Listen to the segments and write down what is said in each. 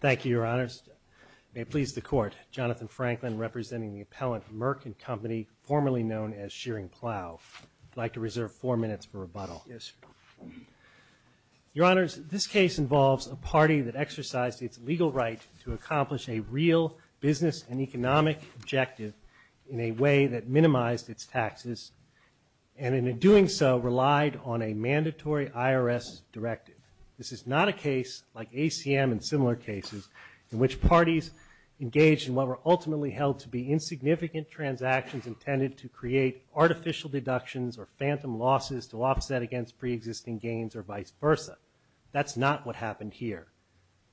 Thank you, Your Honors. May it please the Court, Jonathan Franklin representing the appellant Merck&Company, formerly known as Shearing Plough. I'd like to reserve four minutes for rebuttal. Yes, sir. Your Honors, this case involves a party that exercised its legal right to accomplish a real business and economic objective in a way that minimized its taxes, and in doing so, relied on a mandatory IRS directive. This is not a case like ACM and similar cases in which parties engaged in what were ultimately held to be insignificant transactions intended to create artificial deductions or phantom losses to offset against preexisting gains or vice versa. That's not what happened here.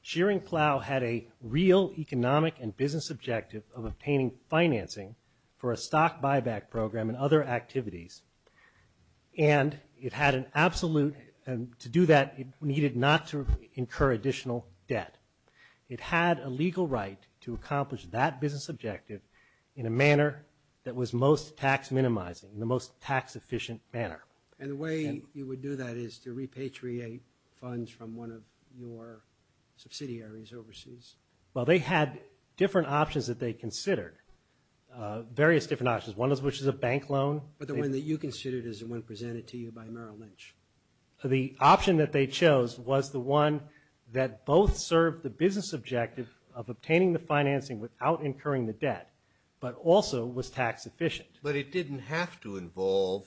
Shearing Plough had a real economic and business objective of obtaining financing for a stock buyback program and other activities, and to do that, it needed not to incur additional debt. It had a legal right to accomplish that business objective in a manner that was most tax-minimizing, in the most tax-efficient manner. And the way you would do that is to repatriate funds from one of your subsidiaries overseas? Well, they had different options that they considered, various different options, one of which is a bank loan. But the one that you considered is the one presented to you by Merrill Lynch. The option that they chose was the one that both served the business objective of obtaining the financing without incurring the debt, but also was tax-efficient. But it didn't have to involve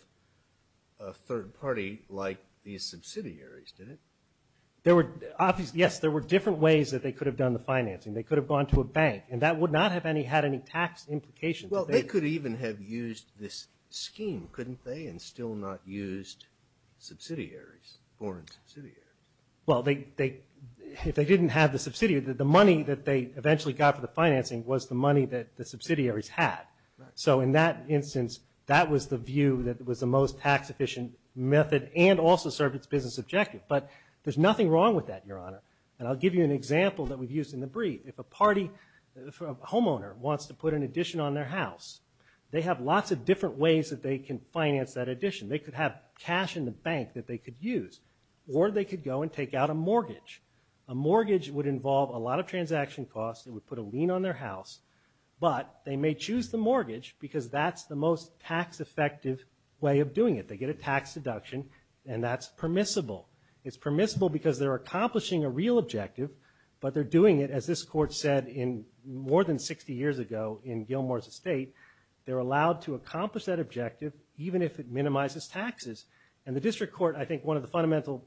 a third party like these subsidiaries, did it? Yes, there were different ways that they could have done the financing. They could have gone to a bank, and that would not have had any tax implications. Well, they could even have used this scheme, couldn't they, and still not used subsidiaries, foreign subsidiaries? Well, if they didn't have the subsidiary, the money that they eventually got for the financing was the money that the subsidiaries had. So in that instance, that was the view that was the most tax-efficient method and also served its business objective. But there's nothing wrong with that, Your Honor. And I'll give you an example that we've used in the brief. If a homeowner wants to put an addition on their house, they have lots of different ways that they can finance that addition. They could have cash in the bank that they could use, or they could go and take out a mortgage. A mortgage would involve a lot of transaction costs. It would put a lien on their house. But they may choose the mortgage because that's the most tax-effective way of doing it. They get a tax deduction, and that's permissible. It's permissible because they're accomplishing a real objective, but they're doing it, as this court said, more than 60 years ago in Gilmore's estate. They're allowed to accomplish that objective even if it minimizes taxes. And the district court, I think one of the fundamental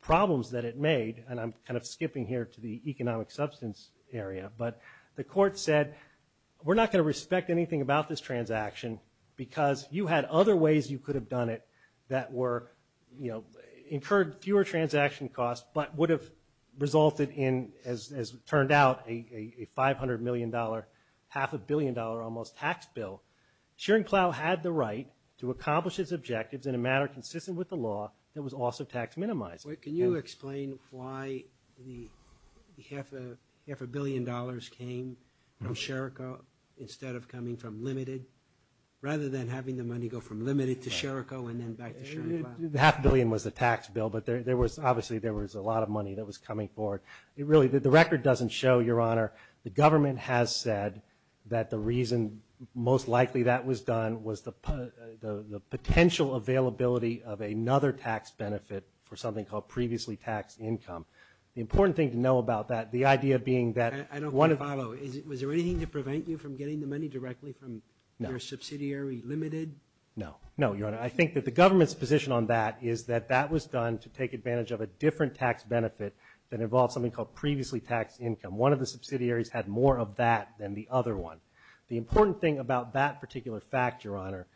problems that it made, and I'm kind of skipping here to the economic substance area, but the court said we're not going to respect anything about this transaction because you had other ways you could have done it that were, you know, resulted in, as it turned out, a $500 million, half a billion dollar almost tax bill. Shearing Plow had the right to accomplish its objectives in a manner consistent with the law that was also tax-minimized. Can you explain why the half a billion dollars came from Shericho instead of coming from Limited, rather than having the money go from Limited to Shericho and then back to Shearing Plow? Half a billion was the tax bill, but obviously there was a lot of money that was coming forward. Really, the record doesn't show, Your Honor. The government has said that the reason most likely that was done was the potential availability of another tax benefit for something called previously taxed income. The important thing to know about that, the idea being that one of the – I don't quite follow. Was there anything to prevent you from getting the money directly from your subsidiary, Limited? No, no, Your Honor. I think that the government's position on that is that that was done to take advantage of a different tax benefit that involved something called previously taxed income. One of the subsidiaries had more of that than the other one. The important thing about that particular fact, Your Honor,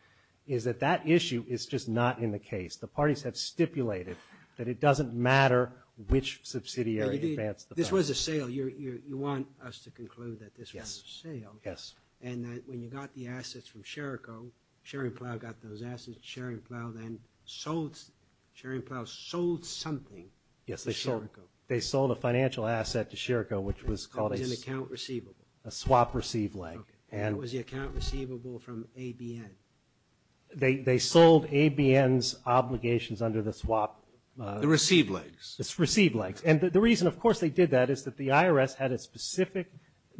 is that that issue is just not in the case. The parties have stipulated that it doesn't matter which subsidiary advanced the benefit. This was a sale. You want us to conclude that this was a sale. Yes. And that when you got the assets from Sheriko, Sherry Plow got those assets. Sherry Plow then sold – Sherry Plow sold something to Sheriko. Yes, they sold a financial asset to Sheriko, which was called a – It was an account receivable. A swap receive leg. Okay. And it was the account receivable from ABN. They sold ABN's obligations under the swap – The receive legs. The receive legs. And the reason, of course, they did that is that the IRS had a specific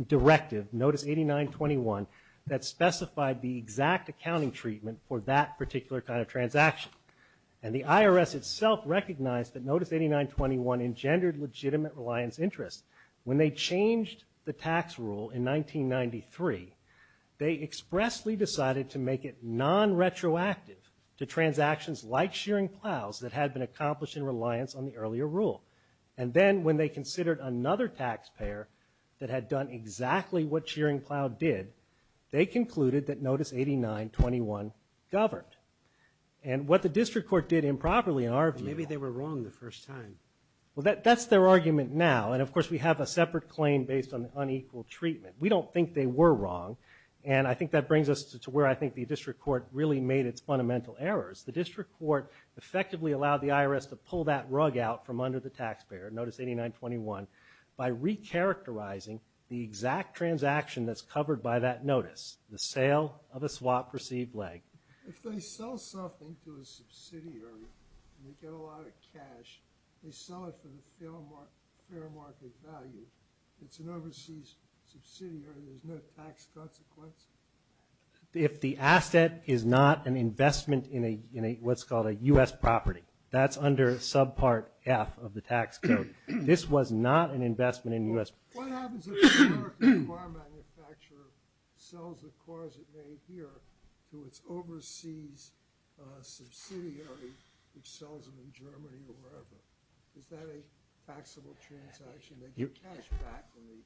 directive, Notice 8921, that specified the exact accounting treatment for that particular kind of transaction. And the IRS itself recognized that Notice 8921 engendered legitimate reliance interest. When they changed the tax rule in 1993, they expressly decided to make it non-retroactive to transactions like Sherring Plow's that had been accomplished in reliance on the earlier rule. And then when they considered another taxpayer that had done exactly what Sherring Plow did, they concluded that Notice 8921 governed. And what the district court did improperly in our view – Maybe they were wrong the first time. Well, that's their argument now. And, of course, we have a separate claim based on unequal treatment. We don't think they were wrong. And I think that brings us to where I think the district court really made its fundamental errors. The district court effectively allowed the IRS to pull that rug out from under the taxpayer, Notice 8921, by recharacterizing the exact transaction that's covered by that notice, the sale of a swap-received leg. If they sell something to a subsidiary and they get a lot of cash, they sell it for the fair market value. It's an overseas subsidiary. There's no tax consequence. If the asset is not an investment in what's called a U.S. property, that's under subpart F of the tax code. This was not an investment in U.S. property. What happens if an American car manufacturer sells the cars it made here to its overseas subsidiary, which sells them in Germany or wherever? Is that a faxable transaction? They get cash back from the client.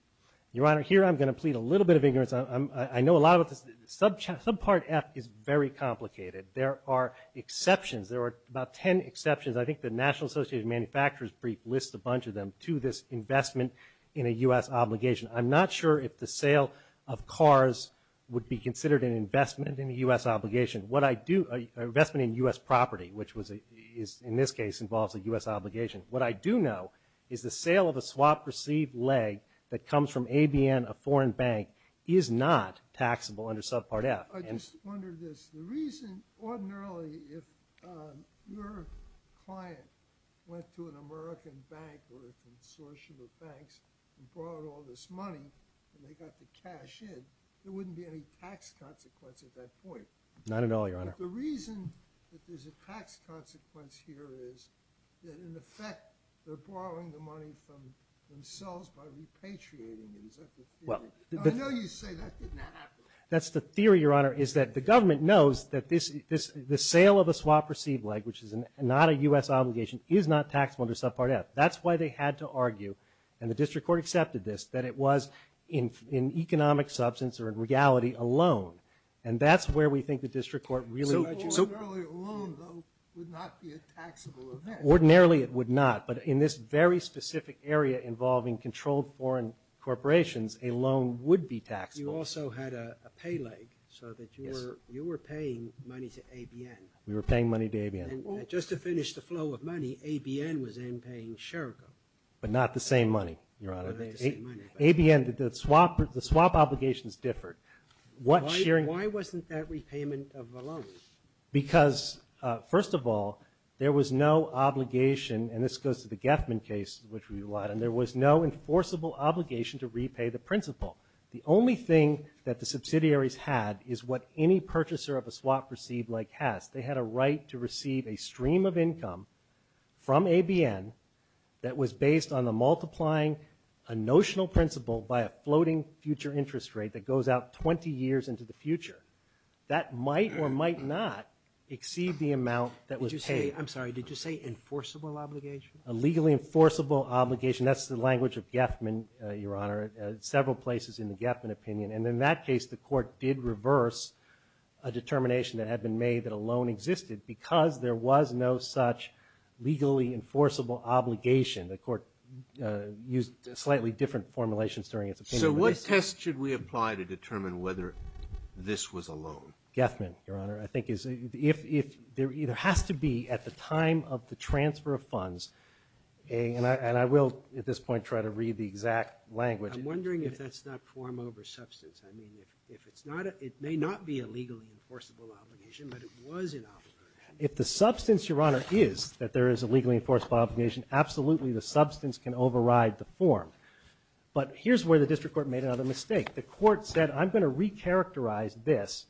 Your Honor, here I'm going to plead a little bit of ignorance. I know a lot of this. Subpart F is very complicated. There are exceptions. There are about ten exceptions. I think the National Association of Manufacturers brief lists a bunch of them to this investment in a U.S. obligation. I'm not sure if the sale of cars would be considered an investment in a U.S. obligation. An investment in U.S. property, which in this case involves a U.S. obligation. What I do know is the sale of a swap received leg that comes from ABN, a foreign bank, is not taxable under subpart F. I just wondered this. The reason ordinarily if your client went to an American bank or a consortium of banks and brought all this money and they got the cash in, there wouldn't be any tax consequence at that point. Not at all, Your Honor. The reason that there's a tax consequence here is that in effect they're borrowing the money from themselves by repatriating it. Is that the theory? I know you say that did not happen. That's the theory, Your Honor, is that the government knows that the sale of a swap received leg, which is not a U.S. obligation, is not taxable under subpart F. That's why they had to argue, and the district court accepted this, that it was in economic substance or in reality a loan. And that's where we think the district court really argued. So ordinarily a loan, though, would not be a taxable event. Ordinarily it would not. But in this very specific area involving controlled foreign corporations, a loan would be taxable. You also had a pay leg so that you were paying money to ABN. We were paying money to ABN. And just to finish the flow of money, ABN was then paying SHERCO. But not the same money, Your Honor. Not the same money. ABN, the swap obligations differed. Why wasn't that repayment of a loan? Because, first of all, there was no obligation, and this goes to the Geffman case, which we relied on, there was no enforceable obligation to repay the principal. The only thing that the subsidiaries had is what any purchaser of a swap received leg has. They had a right to receive a stream of income from ABN that was based on the multiplying a notional principal by a floating future interest rate that goes out 20 years into the future. That might or might not exceed the amount that was paid. I'm sorry. Did you say enforceable obligation? A legally enforceable obligation. That's the language of Geffman, Your Honor, several places in the Geffman opinion. And in that case the court did reverse a determination that had been made that a loan existed because there was no such legally enforceable obligation. The court used slightly different formulations during its opinion. So what test should we apply to determine whether this was a loan? Geffman, Your Honor, I think is if there either has to be at the time of the transfer of funds, and I will at this point try to read the exact language. I'm wondering if that's not form over substance. I mean, if it's not, it may not be a legally enforceable obligation, but it was an obligation. If the substance, Your Honor, is that there is a legally enforceable obligation, absolutely the substance can override the form. But here's where the district court made another mistake. The court said, I'm going to recharacterize this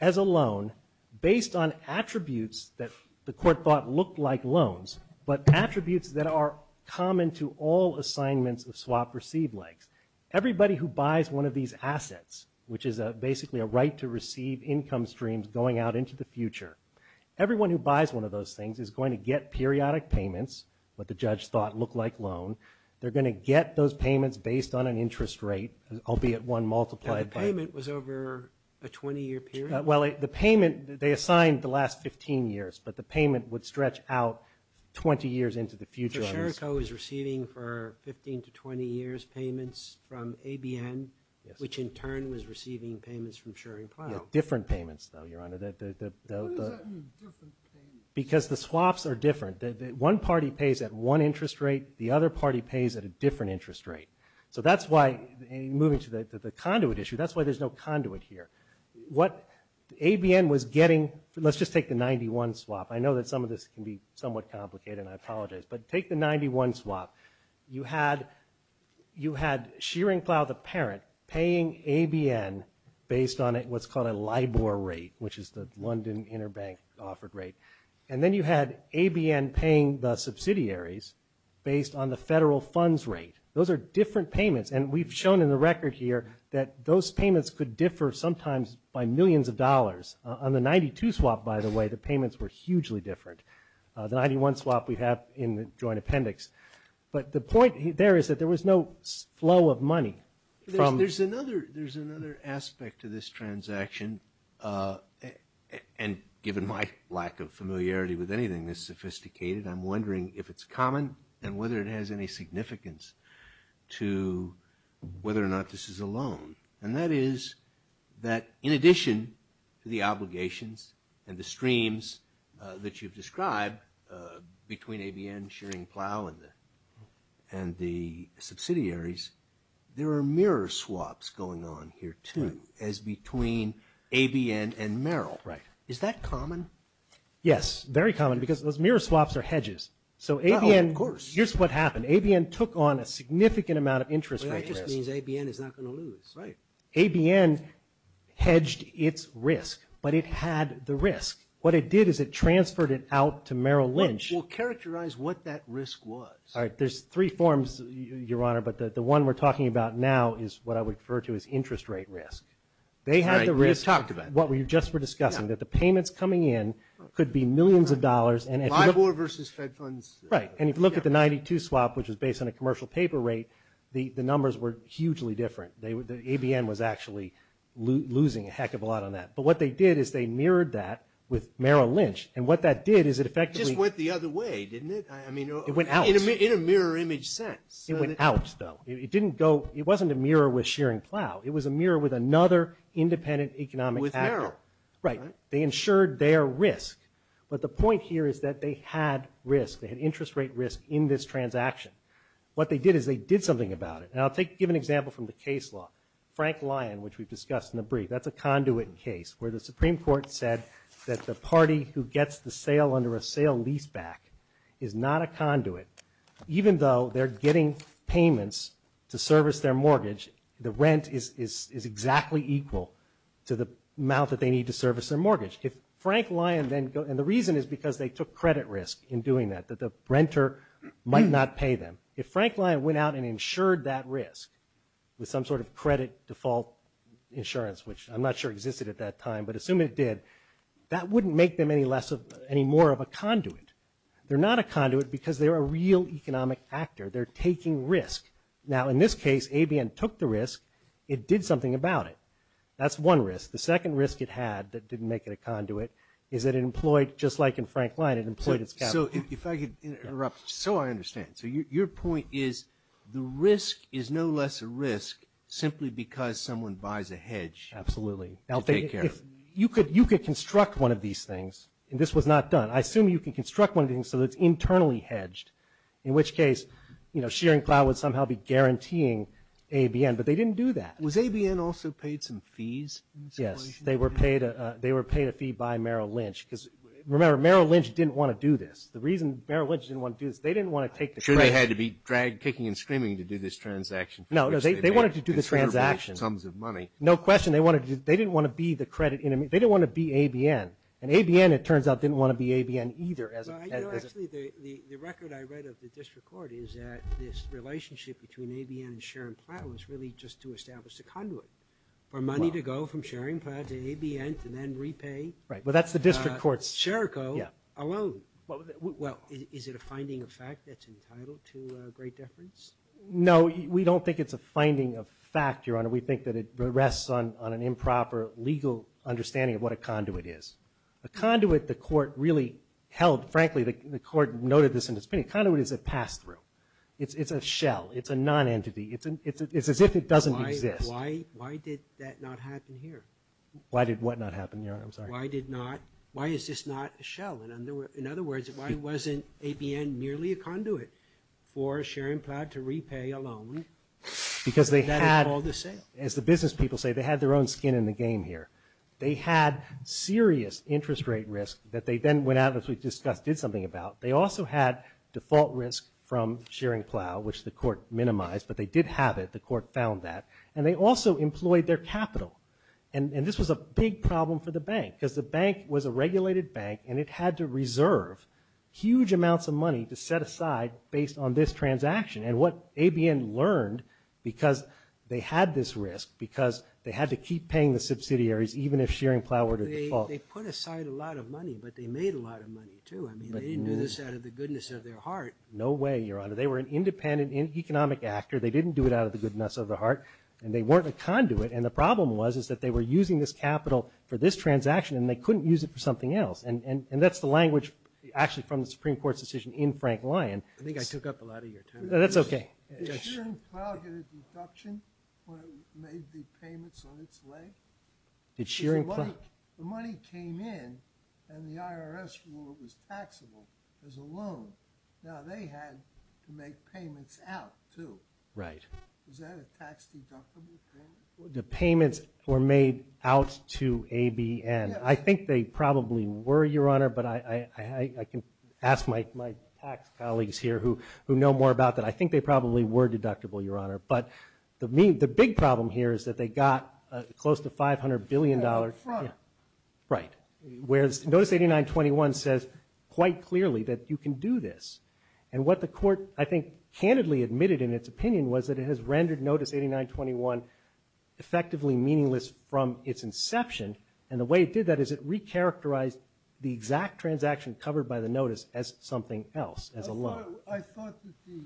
as a loan based on attributes that the court thought looked like loans, but attributes that are common to all assignments of swap received legs. Everybody who buys one of these assets, which is basically a right to receive income streams going out into the future, everyone who buys one of those things is going to get periodic payments, what the judge thought looked like loan. They're going to get those payments based on an interest rate, albeit one multiplied by. The payment was over a 20-year period? Well, the payment, they assigned the last 15 years, but the payment would stretch out 20 years into the future. Mr. Sherico is receiving for 15 to 20 years payments from ABN, which in turn was receiving payments from Shering Plow. Yeah, different payments, though, Your Honor. What does that mean, different payments? Because the swaps are different. One party pays at one interest rate. The other party pays at a different interest rate. So that's why, moving to the conduit issue, that's why there's no conduit here. What ABN was getting, let's just take the 91 swap. I know that some of this can be somewhat complicated, and I apologize. But take the 91 swap. You had Shering Plow, the parent, paying ABN based on what's called a LIBOR rate, which is the London Interbank Offered Rate. And then you had ABN paying the subsidiaries based on the federal funds rate. Those are different payments, and we've shown in the record here that those payments could differ sometimes by millions of dollars. On the 92 swap, by the way, the payments were hugely different. The 91 swap we have in the joint appendix. But the point there is that there was no flow of money. There's another aspect to this transaction, and given my lack of familiarity with anything this sophisticated, I'm wondering if it's common and whether it has any significance to whether or not this is a loan. And that is that in addition to the obligations and the streams that you've described between ABN, Shering Plow, and the subsidiaries, there are mirror swaps going on here too as between ABN and Merrill. Is that common? Yes, very common because those mirror swaps are hedges. So ABN, here's what happened. ABN took on a significant amount of interest. Well, that just means ABN is not going to lose. Right. ABN hedged its risk, but it had the risk. What it did is it transferred it out to Merrill Lynch. Well, characterize what that risk was. All right. There's three forms, Your Honor, but the one we're talking about now is what I would refer to as interest rate risk. All right. You've talked about it. They had the risk, what we just were discussing, that the payments coming in could be millions of dollars. Libor versus fed funds. Right. And if you look at the 92 swap, which was based on a commercial paper rate, the numbers were hugely different. ABN was actually losing a heck of a lot on that. But what they did is they mirrored that with Merrill Lynch, and what that did is it effectively – It just went the other way, didn't it? It went out. In a mirror image sense. It went out, though. It didn't go – it wasn't a mirror with Shering Plow. It was a mirror with another independent economic actor. With Merrill. Right. They ensured their risk. But the point here is that they had risk. They had interest rate risk in this transaction. What they did is they did something about it. And I'll give an example from the case law. Frank Lyon, which we've discussed in the brief, that's a conduit case where the Supreme Court said that the party who gets the sale under a sale lease back is not a conduit. Even though they're getting payments to service their mortgage, the rent is exactly equal to the amount that they need to service their mortgage. And the reason is because they took credit risk in doing that, that the renter might not pay them. If Frank Lyon went out and insured that risk with some sort of credit default insurance, which I'm not sure existed at that time, but assume it did, that wouldn't make them any more of a conduit. They're not a conduit because they're a real economic actor. They're taking risk. Now, in this case, ABN took the risk. It did something about it. That's one risk. The second risk it had that didn't make it a conduit is that it employed, just like in Frank Lyon, it employed its capital. So if I could interrupt. So I understand. So your point is the risk is no less a risk simply because someone buys a hedge. Absolutely. To take care of it. You could construct one of these things, and this was not done. I assume you can construct one of these things so that it's internally hedged, in which case, you know, Shearing Cloud would somehow be guaranteeing ABN, but they didn't do that. Was ABN also paid some fees? Yes. They were paid a fee by Merrill Lynch. Remember, Merrill Lynch didn't want to do this. The reason Merrill Lynch didn't want to do this, they didn't want to take the credit. Sure they had to be dragged kicking and screaming to do this transaction. No, they wanted to do the transaction. No question. They didn't want to be the credit. They didn't want to be ABN. And ABN, it turns out, didn't want to be ABN either. Actually, the record I read of the district court is that this relationship between ABN and Shearing Cloud was really just to establish a conduit for money to go from Shearing Cloud to ABN to then repay Cherico alone. Well, is it a finding of fact that's entitled to great deference? No, we don't think it's a finding of fact, Your Honor. We think that it rests on an improper legal understanding of what a conduit is. A conduit, the court really held, frankly, the court noted this in its opinion. A conduit is a pass-through. It's a shell. It's a non-entity. It's as if it doesn't exist. Why did that not happen here? Why did what not happen, Your Honor? I'm sorry. Why is this not a shell? In other words, why wasn't ABN nearly a conduit for Shearing Cloud to repay alone? Because they had, as the business people say, they had their own skin in the game here. They had serious interest rate risk that they then went out, as we discussed, did something about. They also had default risk from Shearing Cloud, which the court minimized. But they did have it. The court found that. And they also employed their capital. And this was a big problem for the bank because the bank was a regulated bank, and it had to reserve huge amounts of money to set aside based on this transaction. And what ABN learned, because they had this risk, because they had to keep paying the subsidiaries even if Shearing Cloud were to default. They put aside a lot of money, but they made a lot of money, too. I mean, they didn't do this out of the goodness of their heart. No way, Your Honor. They were an independent economic actor. They didn't do it out of the goodness of their heart. And they weren't a conduit. And the problem was is that they were using this capital for this transaction, and they couldn't use it for something else. And that's the language actually from the Supreme Court's decision in Frank Lyon. I think I took up a lot of your time. That's okay. Did Shearing Cloud get a deduction when it made the payments on its leg? Did Shearing Cloud? The money came in, and the IRS ruled it was taxable as a loan. Now, they had to make payments out, too. Right. Was that a tax-deductible payment? The payments were made out to ABN. I think they probably were, Your Honor, but I can ask my tax colleagues here who know more about that. I think they probably were deductible, Your Honor. But the big problem here is that they got close to $500 billion. Right. Whereas Notice 8921 says quite clearly that you can do this. And what the court, I think, candidly admitted in its opinion, was that it has rendered Notice 8921 effectively meaningless from its inception. And the way it did that is it re-characterized the exact transaction covered by the notice as something else, as a loan. I thought that the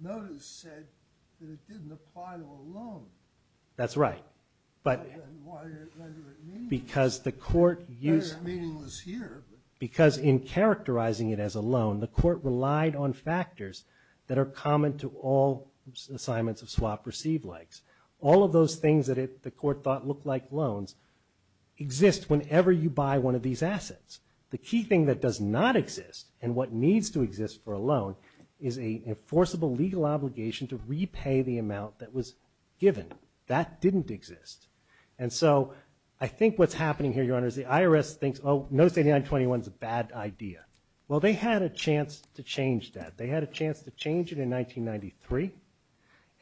notice said that it didn't apply to a loan. That's right. Then why did it render it meaningless? Because the court used... It rendered it meaningless here. Because in characterizing it as a loan, the court relied on factors that are common to all assignments of swap-receive legs. All of those things that the court thought looked like loans exist whenever you buy one of these assets. The key thing that does not exist and what needs to exist for a loan is an enforceable legal obligation to repay the amount that was given. That didn't exist. And so I think what's happening here, Your Honor, is the IRS thinks, oh, Notice 8921 is a bad idea. Well, they had a chance to change that. They had a chance to change it in 1993,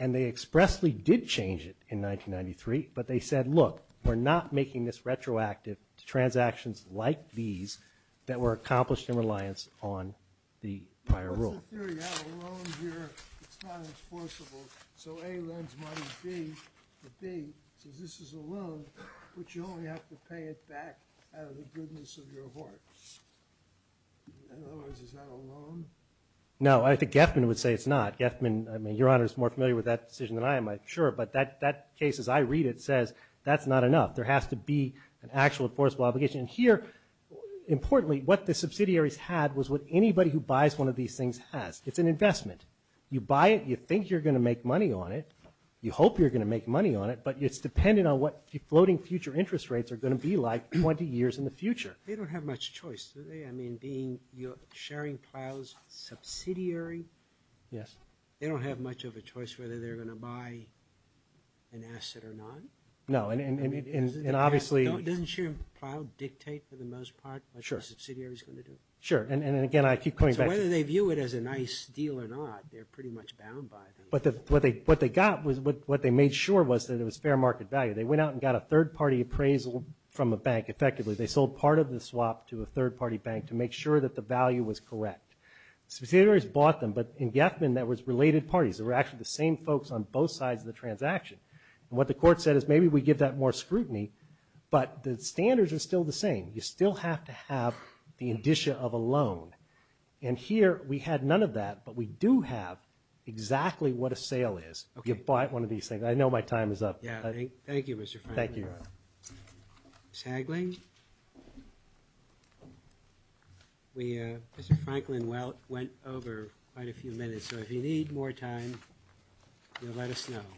and they expressly did change it in 1993. But they said, look, we're not making this retroactive to transactions like these that were accomplished in reliance on the prior rule. What's the theory? You have a loan here, it's not enforceable, so A lends money to B, so this is a loan, but you only have to pay it back out of the goodness of your heart. Otherwise, is that a loan? No, I think Geffman would say it's not. Geffman, Your Honor, is more familiar with that decision than I am, I'm sure. But that case, as I read it, says that's not enough. There has to be an actual enforceable obligation. And here, importantly, what the subsidiaries had was what anybody who buys one of these things has. It's an investment. You buy it, you think you're going to make money on it, you hope you're going to make money on it, but it's dependent on what floating future interest rates are going to be like 20 years in the future. They don't have much choice, do they? I mean, sharing plows, subsidiary? Yes. They don't have much of a choice whether they're going to buy an asset or not? No. I mean, doesn't sharing a plow dictate, for the most part, what your subsidiary is going to do? Sure. And again, I keep coming back to that. So whether they view it as a nice deal or not, they're pretty much bound by it. But what they got was what they made sure was that it was fair market value. They went out and got a third-party appraisal from a bank, effectively. They sold part of the swap to a third-party bank to make sure that the value was correct. Subsidiaries bought them, but in Geffman, there was related parties. They were actually the same folks on both sides of the transaction. And what the court said is maybe we give that more scrutiny, but the standards are still the same. You still have to have the indicia of a loan. And here, we had none of that, but we do have exactly what a sale is. Okay. You bought one of these things. I know my time is up. Thank you, Mr. Franklin. Thank you. Ms. Hagling? Mr. Franklin went over quite a few minutes, so if you need more time, you'll let us know. Sorry,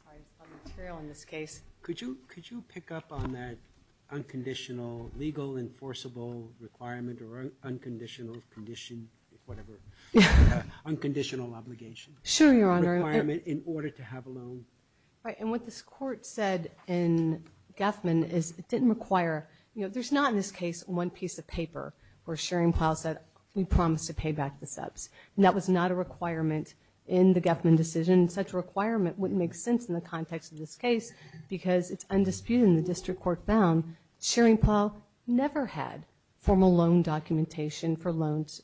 there's a lot of material in this case. Could you pick up on that unconditional legal enforceable requirement or unconditional condition, whatever, unconditional obligation? Sure, Your Honor. Requirement in order to have a loan. Right. And what this court said in Geffman is it didn't require, you know, there's not in this case one piece of paper where Schering-Powell said, we promise to pay back the subs. And that was not a requirement in the Geffman decision. Such a requirement wouldn't make sense in the context of this case because it's undisputed and the district court found Schering-Powell never had formal loan documentation for loans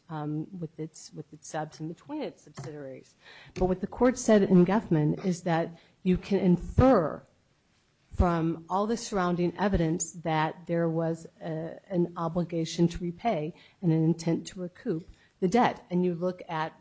with its subs and between its subsidiaries. But what the court said in Geffman is that you can infer from all the surrounding evidence that there was an obligation to repay and an intent to recoup the debt. And you look at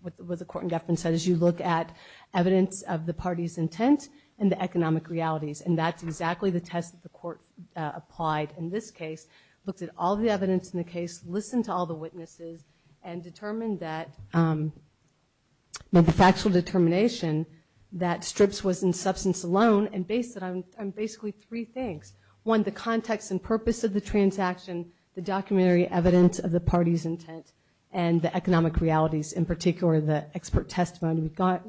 what the court in Geffman said is you look at evidence of the party's intent and the economic realities. And that's exactly the test that the court applied in this case, looked at all the evidence in the case, listened to all the witnesses and determined that the factual determination that Strips was in substance alone and based it on basically three things. One, the context and purpose of the transaction, the documentary evidence of the party's intent and the economic realities, in particular the expert testimony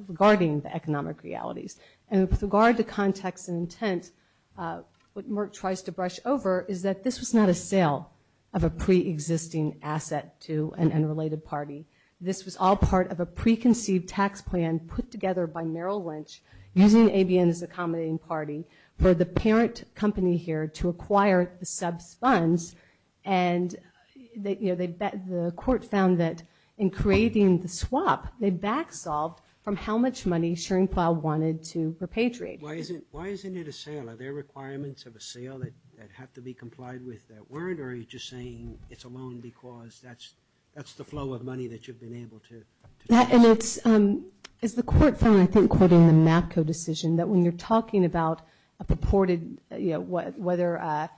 regarding the economic realities. And with regard to context and intent, what Merck tries to brush over is that this was not a sale of a pre-existing asset to an unrelated party. This was all part of a preconceived tax plan put together by Merrill Lynch using ABN as the accommodating party for the parent company here to acquire the subs funds. And the court found that in creating the swap, they back solved from how much money Shering-Powell wanted to repatriate. Why isn't it a sale? Are there requirements of a sale that have to be complied with that weren't? Or are you just saying it's a loan because that's the flow of money that you've been able to do? And it's the court found, I think, according to the MAPCO decision that when you're talking about a purported, whether a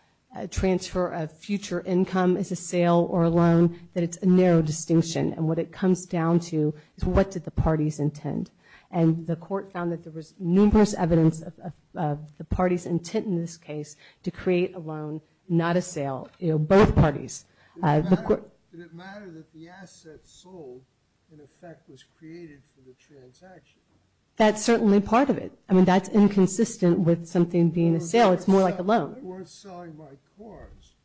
transfer of future income is a sale or a loan, that it's a narrow distinction. And what it comes down to is what did the parties intend? And the court found that there was numerous evidence of the party's intent in this case to create a loan, not a sale. You know, both parties. Did it matter that the asset sold, in effect, was created for the transaction? That's certainly part of it. I mean, that's inconsistent with something being a sale. It's more like a loan. They weren't selling by cars.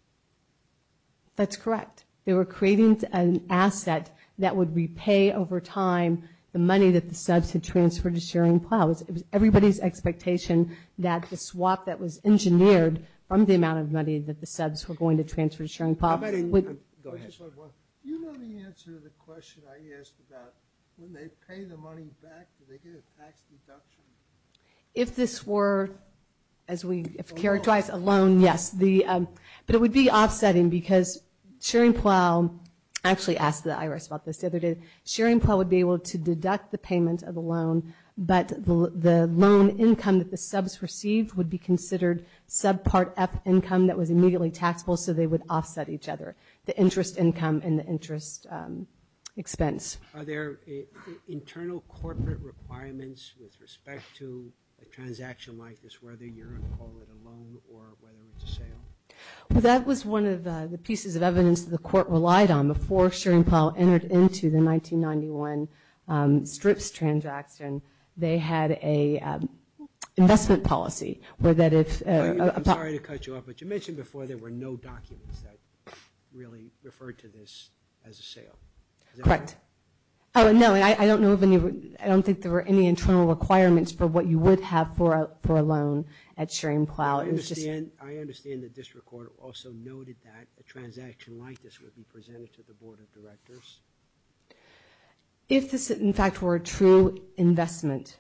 That's correct. They were creating an asset that would repay over time the money that the subs had transferred to Shering-Powell. It was everybody's expectation that the swap that was engineered from the amount of money that the subs were going to transfer to Shering-Powell. Go ahead. Do you know the answer to the question I asked about when they pay the money back, do they get a tax deduction? If this were, as we characterized, a loan, yes. But it would be offsetting because Shering-Powell, I actually asked the IRS about this the other day, Shering-Powell would be able to deduct the payment of the loan, but the loan income that the subs received would be considered sub part F income that was immediately taxable, so they would offset each other, the interest income and the interest expense. Are there internal corporate requirements with respect to a transaction like this, whether you're going to call it a loan or whether it's a sale? That was one of the pieces of evidence that the court relied on before Shering-Powell entered into the 1991 STRIPS transaction, they had an investment policy. I'm sorry to cut you off, but you mentioned before there were no documents that really referred to this as a sale. Correct. No, I don't think there were any internal requirements for what you would have for a loan at Shering-Powell. I understand the district court also noted that a transaction like this would be presented to the board of directors. If this, in fact, were a true investment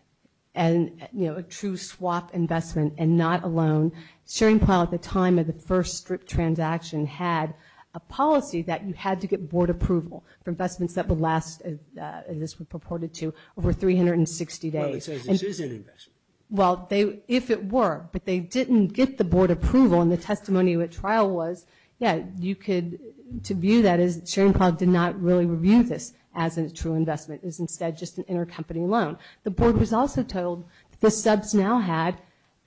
and, you know, a true swap investment and not a loan, Shering-Powell at the time of the first STRIPS transaction had a policy that you had to get board approval for investments that would last, as this was purported to, over 360 days. Well, it says this is an investment. Well, if it were, but they didn't get the board approval, and the testimony at trial was, yeah, you could, to view that as Shering-Powell did not really review this as a true investment. It was instead just an intercompany loan. The board was also told that the subs now had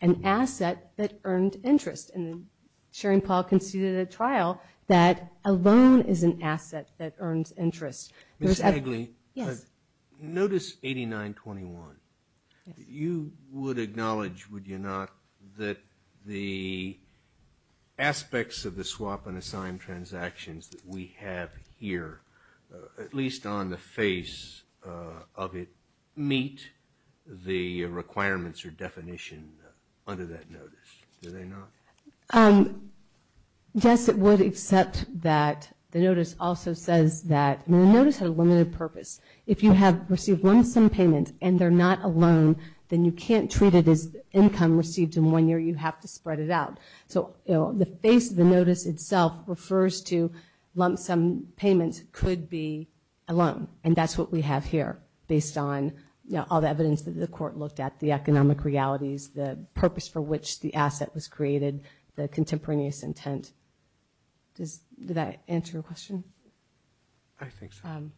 an asset that earned interest, and Shering-Powell conceded at trial that a loan is an asset that earns interest. Ms. Hagley. Yes. Notice 8921. You would acknowledge, would you not, that the aspects of the swap and assign transactions that we have here, at least on the face of it, meet the requirements or definition under that notice, do they not? Yes, it would, except that the notice also says that the notice had a limited purpose. If you have received lonesome payments and they're not a loan, then you can't treat it as income received in one year. You have to spread it out. So the face of the notice itself refers to lonesome payments could be a loan, and that's what we have here based on all the evidence that the court looked at, the economic realities, the purpose for which the asset was created, the contemporaneous intent. Did that answer your question? I think so.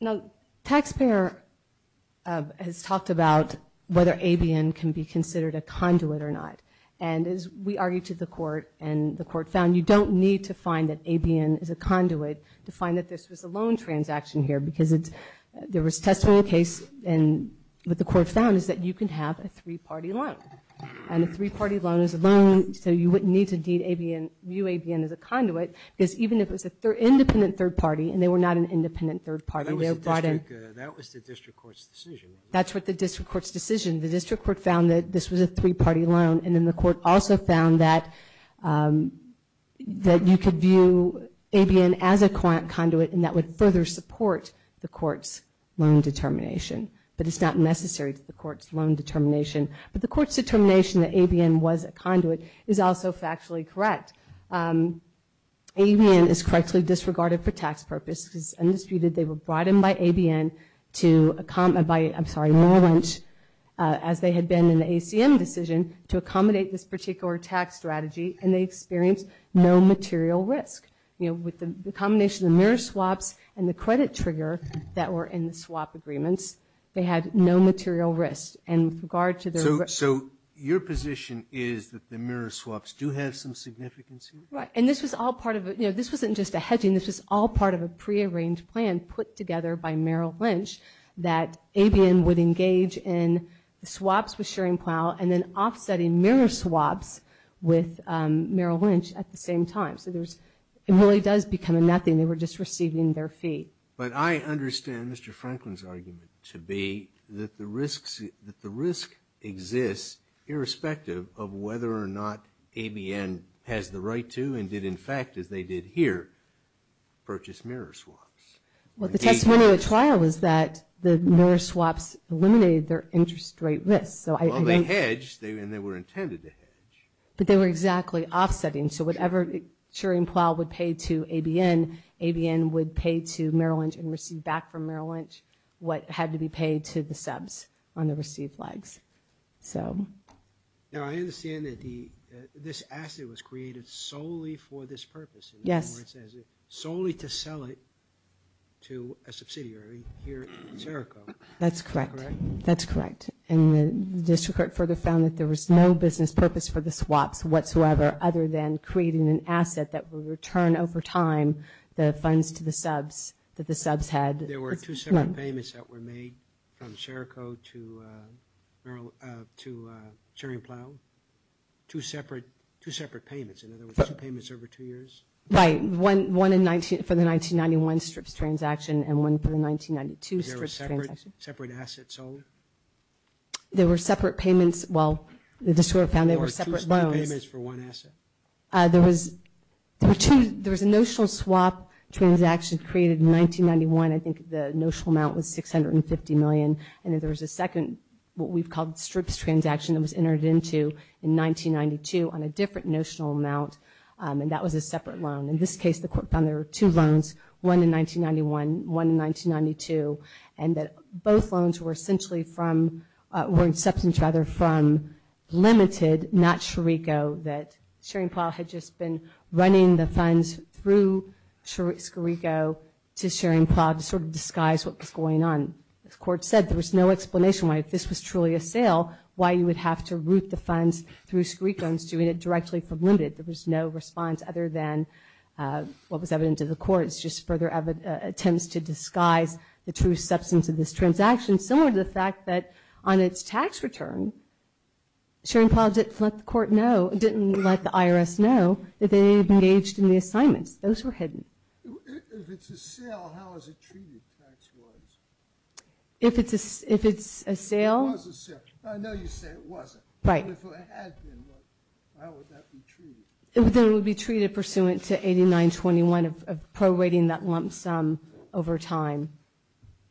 No. Taxpayer has talked about whether ABN can be considered a conduit or not, and as we argued to the court, and the court found, you don't need to find that ABN is a conduit to find that this was a loan transaction here, because there was testimony in the case, and what the court found is that you can have a three-party loan, and a three-party loan is a loan, so you wouldn't need to view ABN as a conduit, because even if it was an independent third party, and they were not an independent third party. That was the district court's decision. That's what the district court's decision. The district court found that this was a three-party loan, and then the court also found that you could view ABN as a conduit, and that would further support the court's loan determination, but it's not necessary to the court's loan determination. But the court's determination that ABN was a conduit is also factually correct. ABN is correctly disregarded for tax purposes. It's undisputed they were brought in by ABN to, I'm sorry, Merrill Lynch, as they had been in the ACM decision, to accommodate this particular tax strategy, and they experienced no material risk. You know, with the combination of the mirror swaps, and the credit trigger that were in the swap agreements, they had no material risk, and with regard to their risk. So your position is that the mirror swaps do have some significance here? Right. And this was all part of a, you know, this wasn't just a hedging. This was all part of a prearranged plan put together by Merrill Lynch that ABN would engage in swaps with Shering Plow and then offsetting mirror swaps with Merrill Lynch at the same time. So it really does become a nothing. They were just receiving their fee. But I understand Mr. Franklin's argument to be that the risk exists irrespective of whether or not ABN has the right to, and did in fact, as they did here, purchase mirror swaps. Well, the testimony of the trial was that the mirror swaps eliminated their interest rate risk. Well, they hedged, and they were intended to hedge. But they were exactly offsetting. So whatever Shering Plow would pay to ABN, ABN would pay to Merrill Lynch and receive back from Merrill Lynch what had to be paid to the subs on the received flags. Now, I understand that this asset was created solely for this purpose. Yes. In other words, solely to sell it to a subsidiary here in Syracuse. That's correct. Correct? That's correct. And the district court further found that there was no business purpose for the swaps whatsoever other than creating an asset that would return over time the funds to the subs that the subs had. There were two separate payments that were made from Sherico to Shering Plow? Two separate payments. In other words, two payments over two years? Right. One for the 1991 STRIPS transaction and one for the 1992 STRIPS transaction. Were there separate assets sold? There were separate payments. Well, the district court found there were separate loans. Separate payments for one asset. There was a notional swap transaction created in 1991. I think the notional amount was $650 million. And then there was a second what we've called STRIPS transaction that was entered into in 1992 on a different notional amount, and that was a separate loan. In this case, the court found there were two loans, one in 1991, one in 1992, and that both loans were essentially from, were in substance rather from Limited, not Sherico, that Shering Plow had just been running the funds through Sherico to Shering Plow to sort of disguise what was going on. As the court said, there was no explanation why, if this was truly a sale, why you would have to route the funds through Sherico instead of doing it directly from Limited. There was no response other than what was evident to the court. It was just further attempts to disguise the true substance of this transaction, similar to the fact that on its tax return, Shering Plow didn't let the court know, didn't let the IRS know that they had engaged in the assignments. Those were hidden. If it's a sale, how is it treated tax-wise? If it's a sale? If it was a sale. I know you say it wasn't. Right. If it had been, how would that be treated? Then it would be treated pursuant to 8921 of prorating that lump sum over time,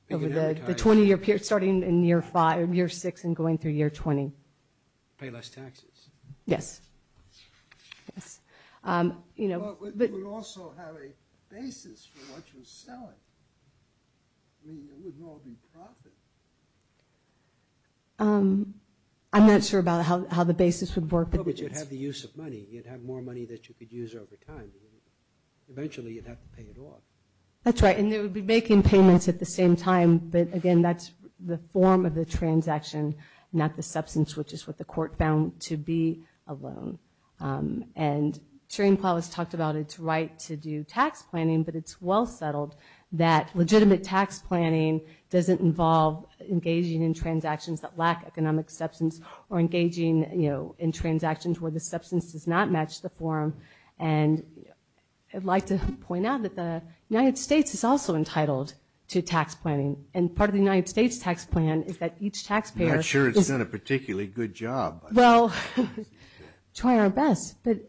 over the 20-year period, starting in year five, year six, and going through year 20. Pay less taxes. Yes. But it would also have a basis for what you're selling. I mean, it wouldn't all be profit. I'm not sure about how the basis would work. No, but you'd have the use of money. You'd have more money that you could use over time. Eventually, you'd have to pay it off. That's right, and they would be making payments at the same time. But, again, that's the form of the transaction, not the substance, which is what the court found to be a loan. And Shering Plow has talked about its right to do tax planning, but it's well settled that legitimate tax planning doesn't involve engaging in transactions that lack economic substance or engaging in transactions where the substance does not match the form. And I'd like to point out that the United States is also entitled to tax planning, and part of the United States tax plan is that each taxpayer is... I'm not sure it's done a particularly good job. Well, try our best. But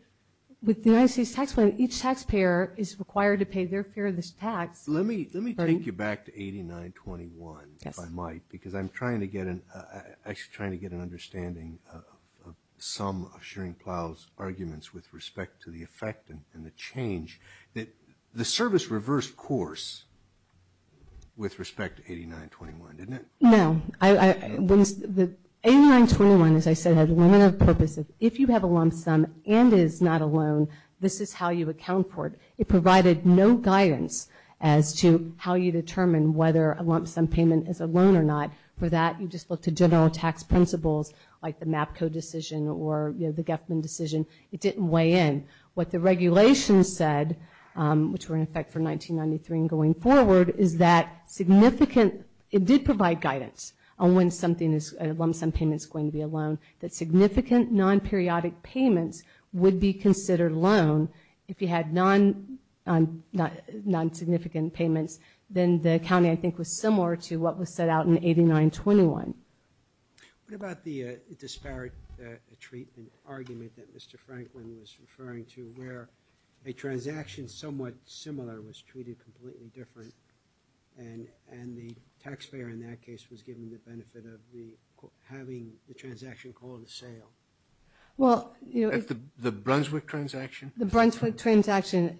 with the United States tax plan, each taxpayer is required to pay their fairest tax. Let me take you back to 8921, if I might, because I'm actually trying to get an understanding of some of Shering Plow's arguments with respect to the effect and the change. The service reversed course with respect to 8921, didn't it? No. 8921, as I said, had one purpose. If you have a lump sum and it is not a loan, this is how you account for it. It provided no guidance as to how you determine whether a lump sum payment is a loan or not. For that, you just look to general tax principles, like the MAPCO decision or the Geffman decision. It didn't weigh in. What the regulations said, which were in effect from 1993 and going forward, is that it did provide guidance on when a lump sum payment is going to be a loan, that significant non-periodic payments would be considered a loan if you had non-significant payments. Then the accounting, I think, was similar to what was set out in 8921. What about the disparate treatment argument that Mr. Franklin was referring to where a transaction somewhat similar was treated completely different and the taxpayer in that case was given the benefit of having the transaction called a sale? The Brunswick transaction? The Brunswick transaction.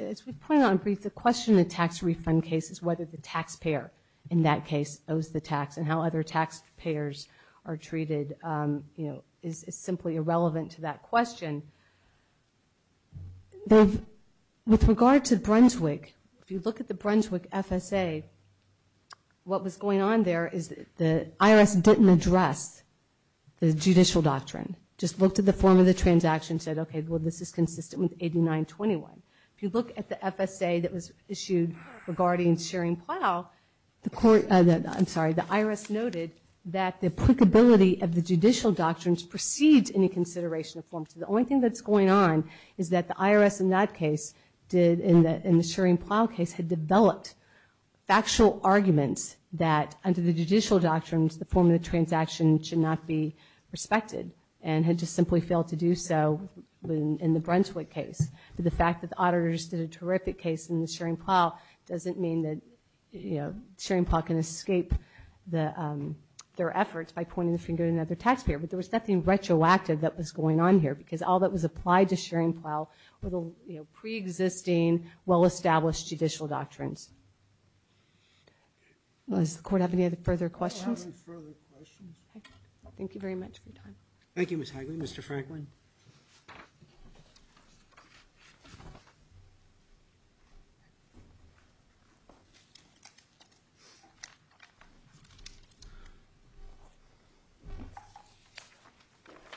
As we pointed out in brief, the question in the tax refund case is whether the taxpayer in that case owes the tax and how other taxpayers are treated is simply irrelevant to that question. With regard to Brunswick, if you look at the Brunswick FSA, what was going on there is the IRS didn't address the judicial doctrine. Just looked at the form of the transaction and said, okay, well, this is consistent with 8921. If you look at the FSA that was issued regarding sharing plow, the IRS noted that the applicability of the judicial doctrines precedes any consideration of forms. The only thing that's going on is that the IRS in that case, in the sharing plow case, had developed factual arguments that under the judicial doctrines the form of the transaction should not be respected and had just simply failed to do so in the Brunswick case. But the fact that the auditors did a terrific case in the sharing plow doesn't mean that sharing plow can escape their efforts by pointing the finger at another taxpayer. But there was nothing retroactive that was going on here because all that was applied to sharing plow were the preexisting, well-established judicial doctrines. Does the court have any further questions? I don't have any further questions. Thank you very much for your time. Thank you, Ms. Hagley. Mr. Franklin. Mr. Franklin.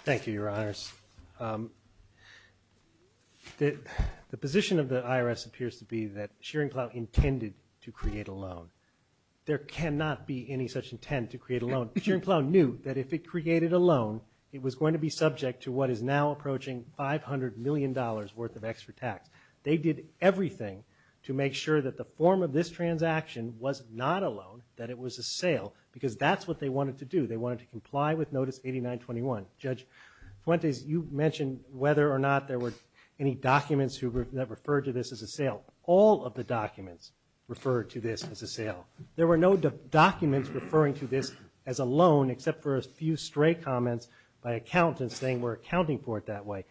Thank you, Your Honors. The position of the IRS appears to be that sharing plow intended to create a loan. There cannot be any such intent to create a loan. Sharing plow knew that if it created a loan, it was going to be subject to what is now approaching $500 million worth of extra tax. They did everything to make sure that the form of this transaction was not a loan, that it was a sale, because that's what they wanted to do. They wanted to comply with Notice 8921. Judge Fuentes, you mentioned whether or not there were any documents that referred to this as a sale. All of the documents referred to this as a sale. There were no documents referring to this as a loan except for a few stray comments by accountants saying we're accounting for it that way.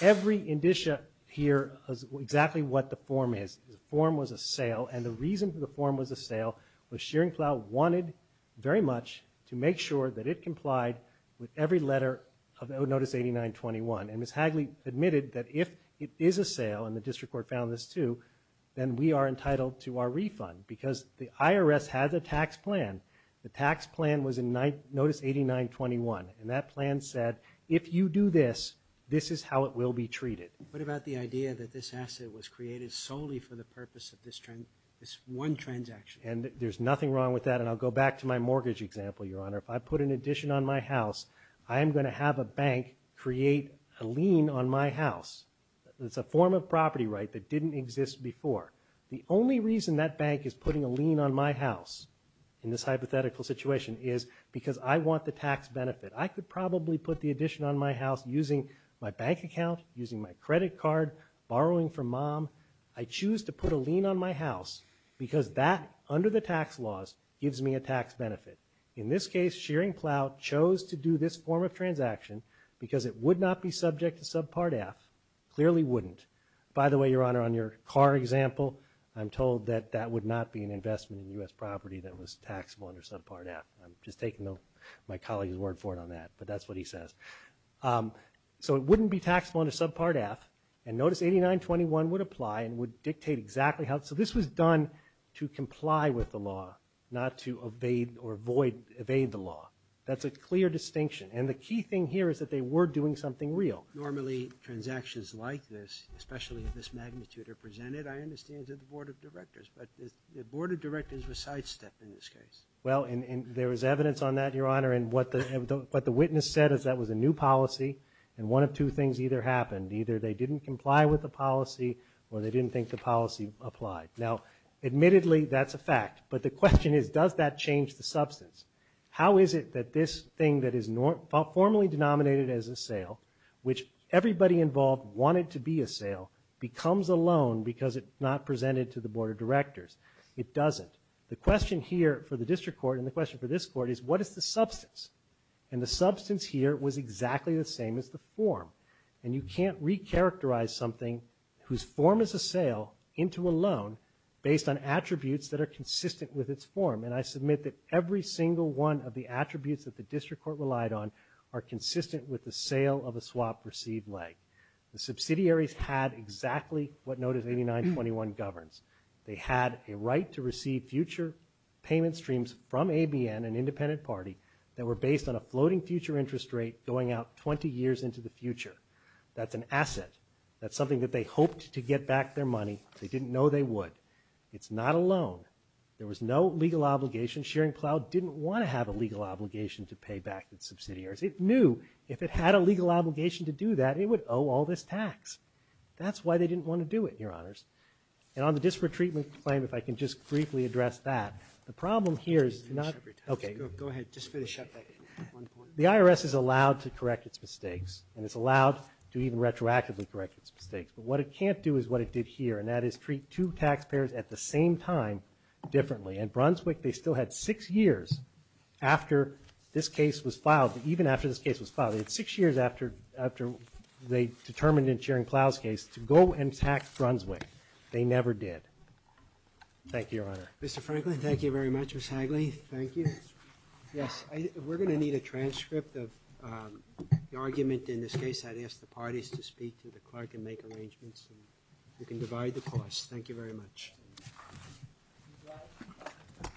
Every indicia here is exactly what the form is. The form was a sale, and the reason the form was a sale was sharing plow wanted very much to make sure that it complied with every letter of Notice 8921. And Ms. Hagley admitted that if it is a sale, and the district court found this too, then we are entitled to our refund because the IRS has a tax plan. The tax plan was in Notice 8921, and that plan said if you do this, this is how it will be treated. What about the idea that this asset was created solely for the purpose of this one transaction? There's nothing wrong with that, and I'll go back to my mortgage example, Your Honor. If I put an addition on my house, I am going to have a bank create a lien on my house. It's a form of property right that didn't exist before. The only reason that bank is putting a lien on my house in this hypothetical situation is because I want the tax benefit. I could probably put the addition on my house using my bank account, using my credit card, borrowing from Mom. I choose to put a lien on my house because that, under the tax laws, gives me a tax benefit. In this case, sharing plow chose to do this form of transaction because it would not be subject to subpart F, clearly wouldn't. By the way, Your Honor, on your car example, I'm told that that would not be an investment in U.S. property that was taxable under subpart F. I'm just taking my colleague's word for it on that, but that's what he says. So it wouldn't be taxable under subpart F, and Notice 8921 would apply and would dictate exactly how. So this was done to comply with the law, not to evade the law. That's a clear distinction, and the key thing here is that they were doing something real. Normally, transactions like this, especially of this magnitude, are presented, I understand, to the Board of Directors, but the Board of Directors was sidestepped in this case. Well, and there was evidence on that, Your Honor, and what the witness said is that was a new policy, and one of two things either happened. Either they didn't comply with the policy or they didn't think the policy applied. Now, admittedly, that's a fact, but the question is, does that change the substance? How is it that this thing that is formally denominated as a sale, which everybody involved wanted to be a sale, becomes a loan because it's not presented to the Board of Directors? It doesn't. The question here for the district court and the question for this court is, what is the substance? And the substance here was exactly the same as the form, and you can't recharacterize something whose form is a sale into a loan based on attributes that are consistent with its form, and I submit that every single one of the attributes that the district court relied on are consistent with the sale of a swap received leg. The subsidiaries had exactly what Notice 8921 governs. They had a right to receive future payment streams from ABN, an independent party, that were based on a floating future interest rate going out 20 years into the future. That's an asset. That's something that they hoped to get back their money. They didn't know they would. It's not a loan. There was no legal obligation. Shearing Plow didn't want to have a legal obligation to pay back its subsidiaries. It knew if it had a legal obligation to do that, it would owe all this tax. That's why they didn't want to do it, Your Honors. And on the disparate treatment claim, if I can just briefly address that. The problem here is not the IRS is allowed to correct its mistakes, and it's allowed to even retroactively correct its mistakes, but what it can't do is what it did here, and that is treat two taxpayers at the same time differently. At Brunswick, they still had six years after this case was filed, even after this case was filed. They had six years after they determined in Shearing Plow's case to go and tax Brunswick. They never did. Thank you, Your Honor. Mr. Franklin, thank you very much. Ms. Hagley, thank you. Yes, we're going to need a transcript of the argument in this case. I'd ask the parties to speak to the clerk and make arrangements. You can divide the cost. Thank you very much.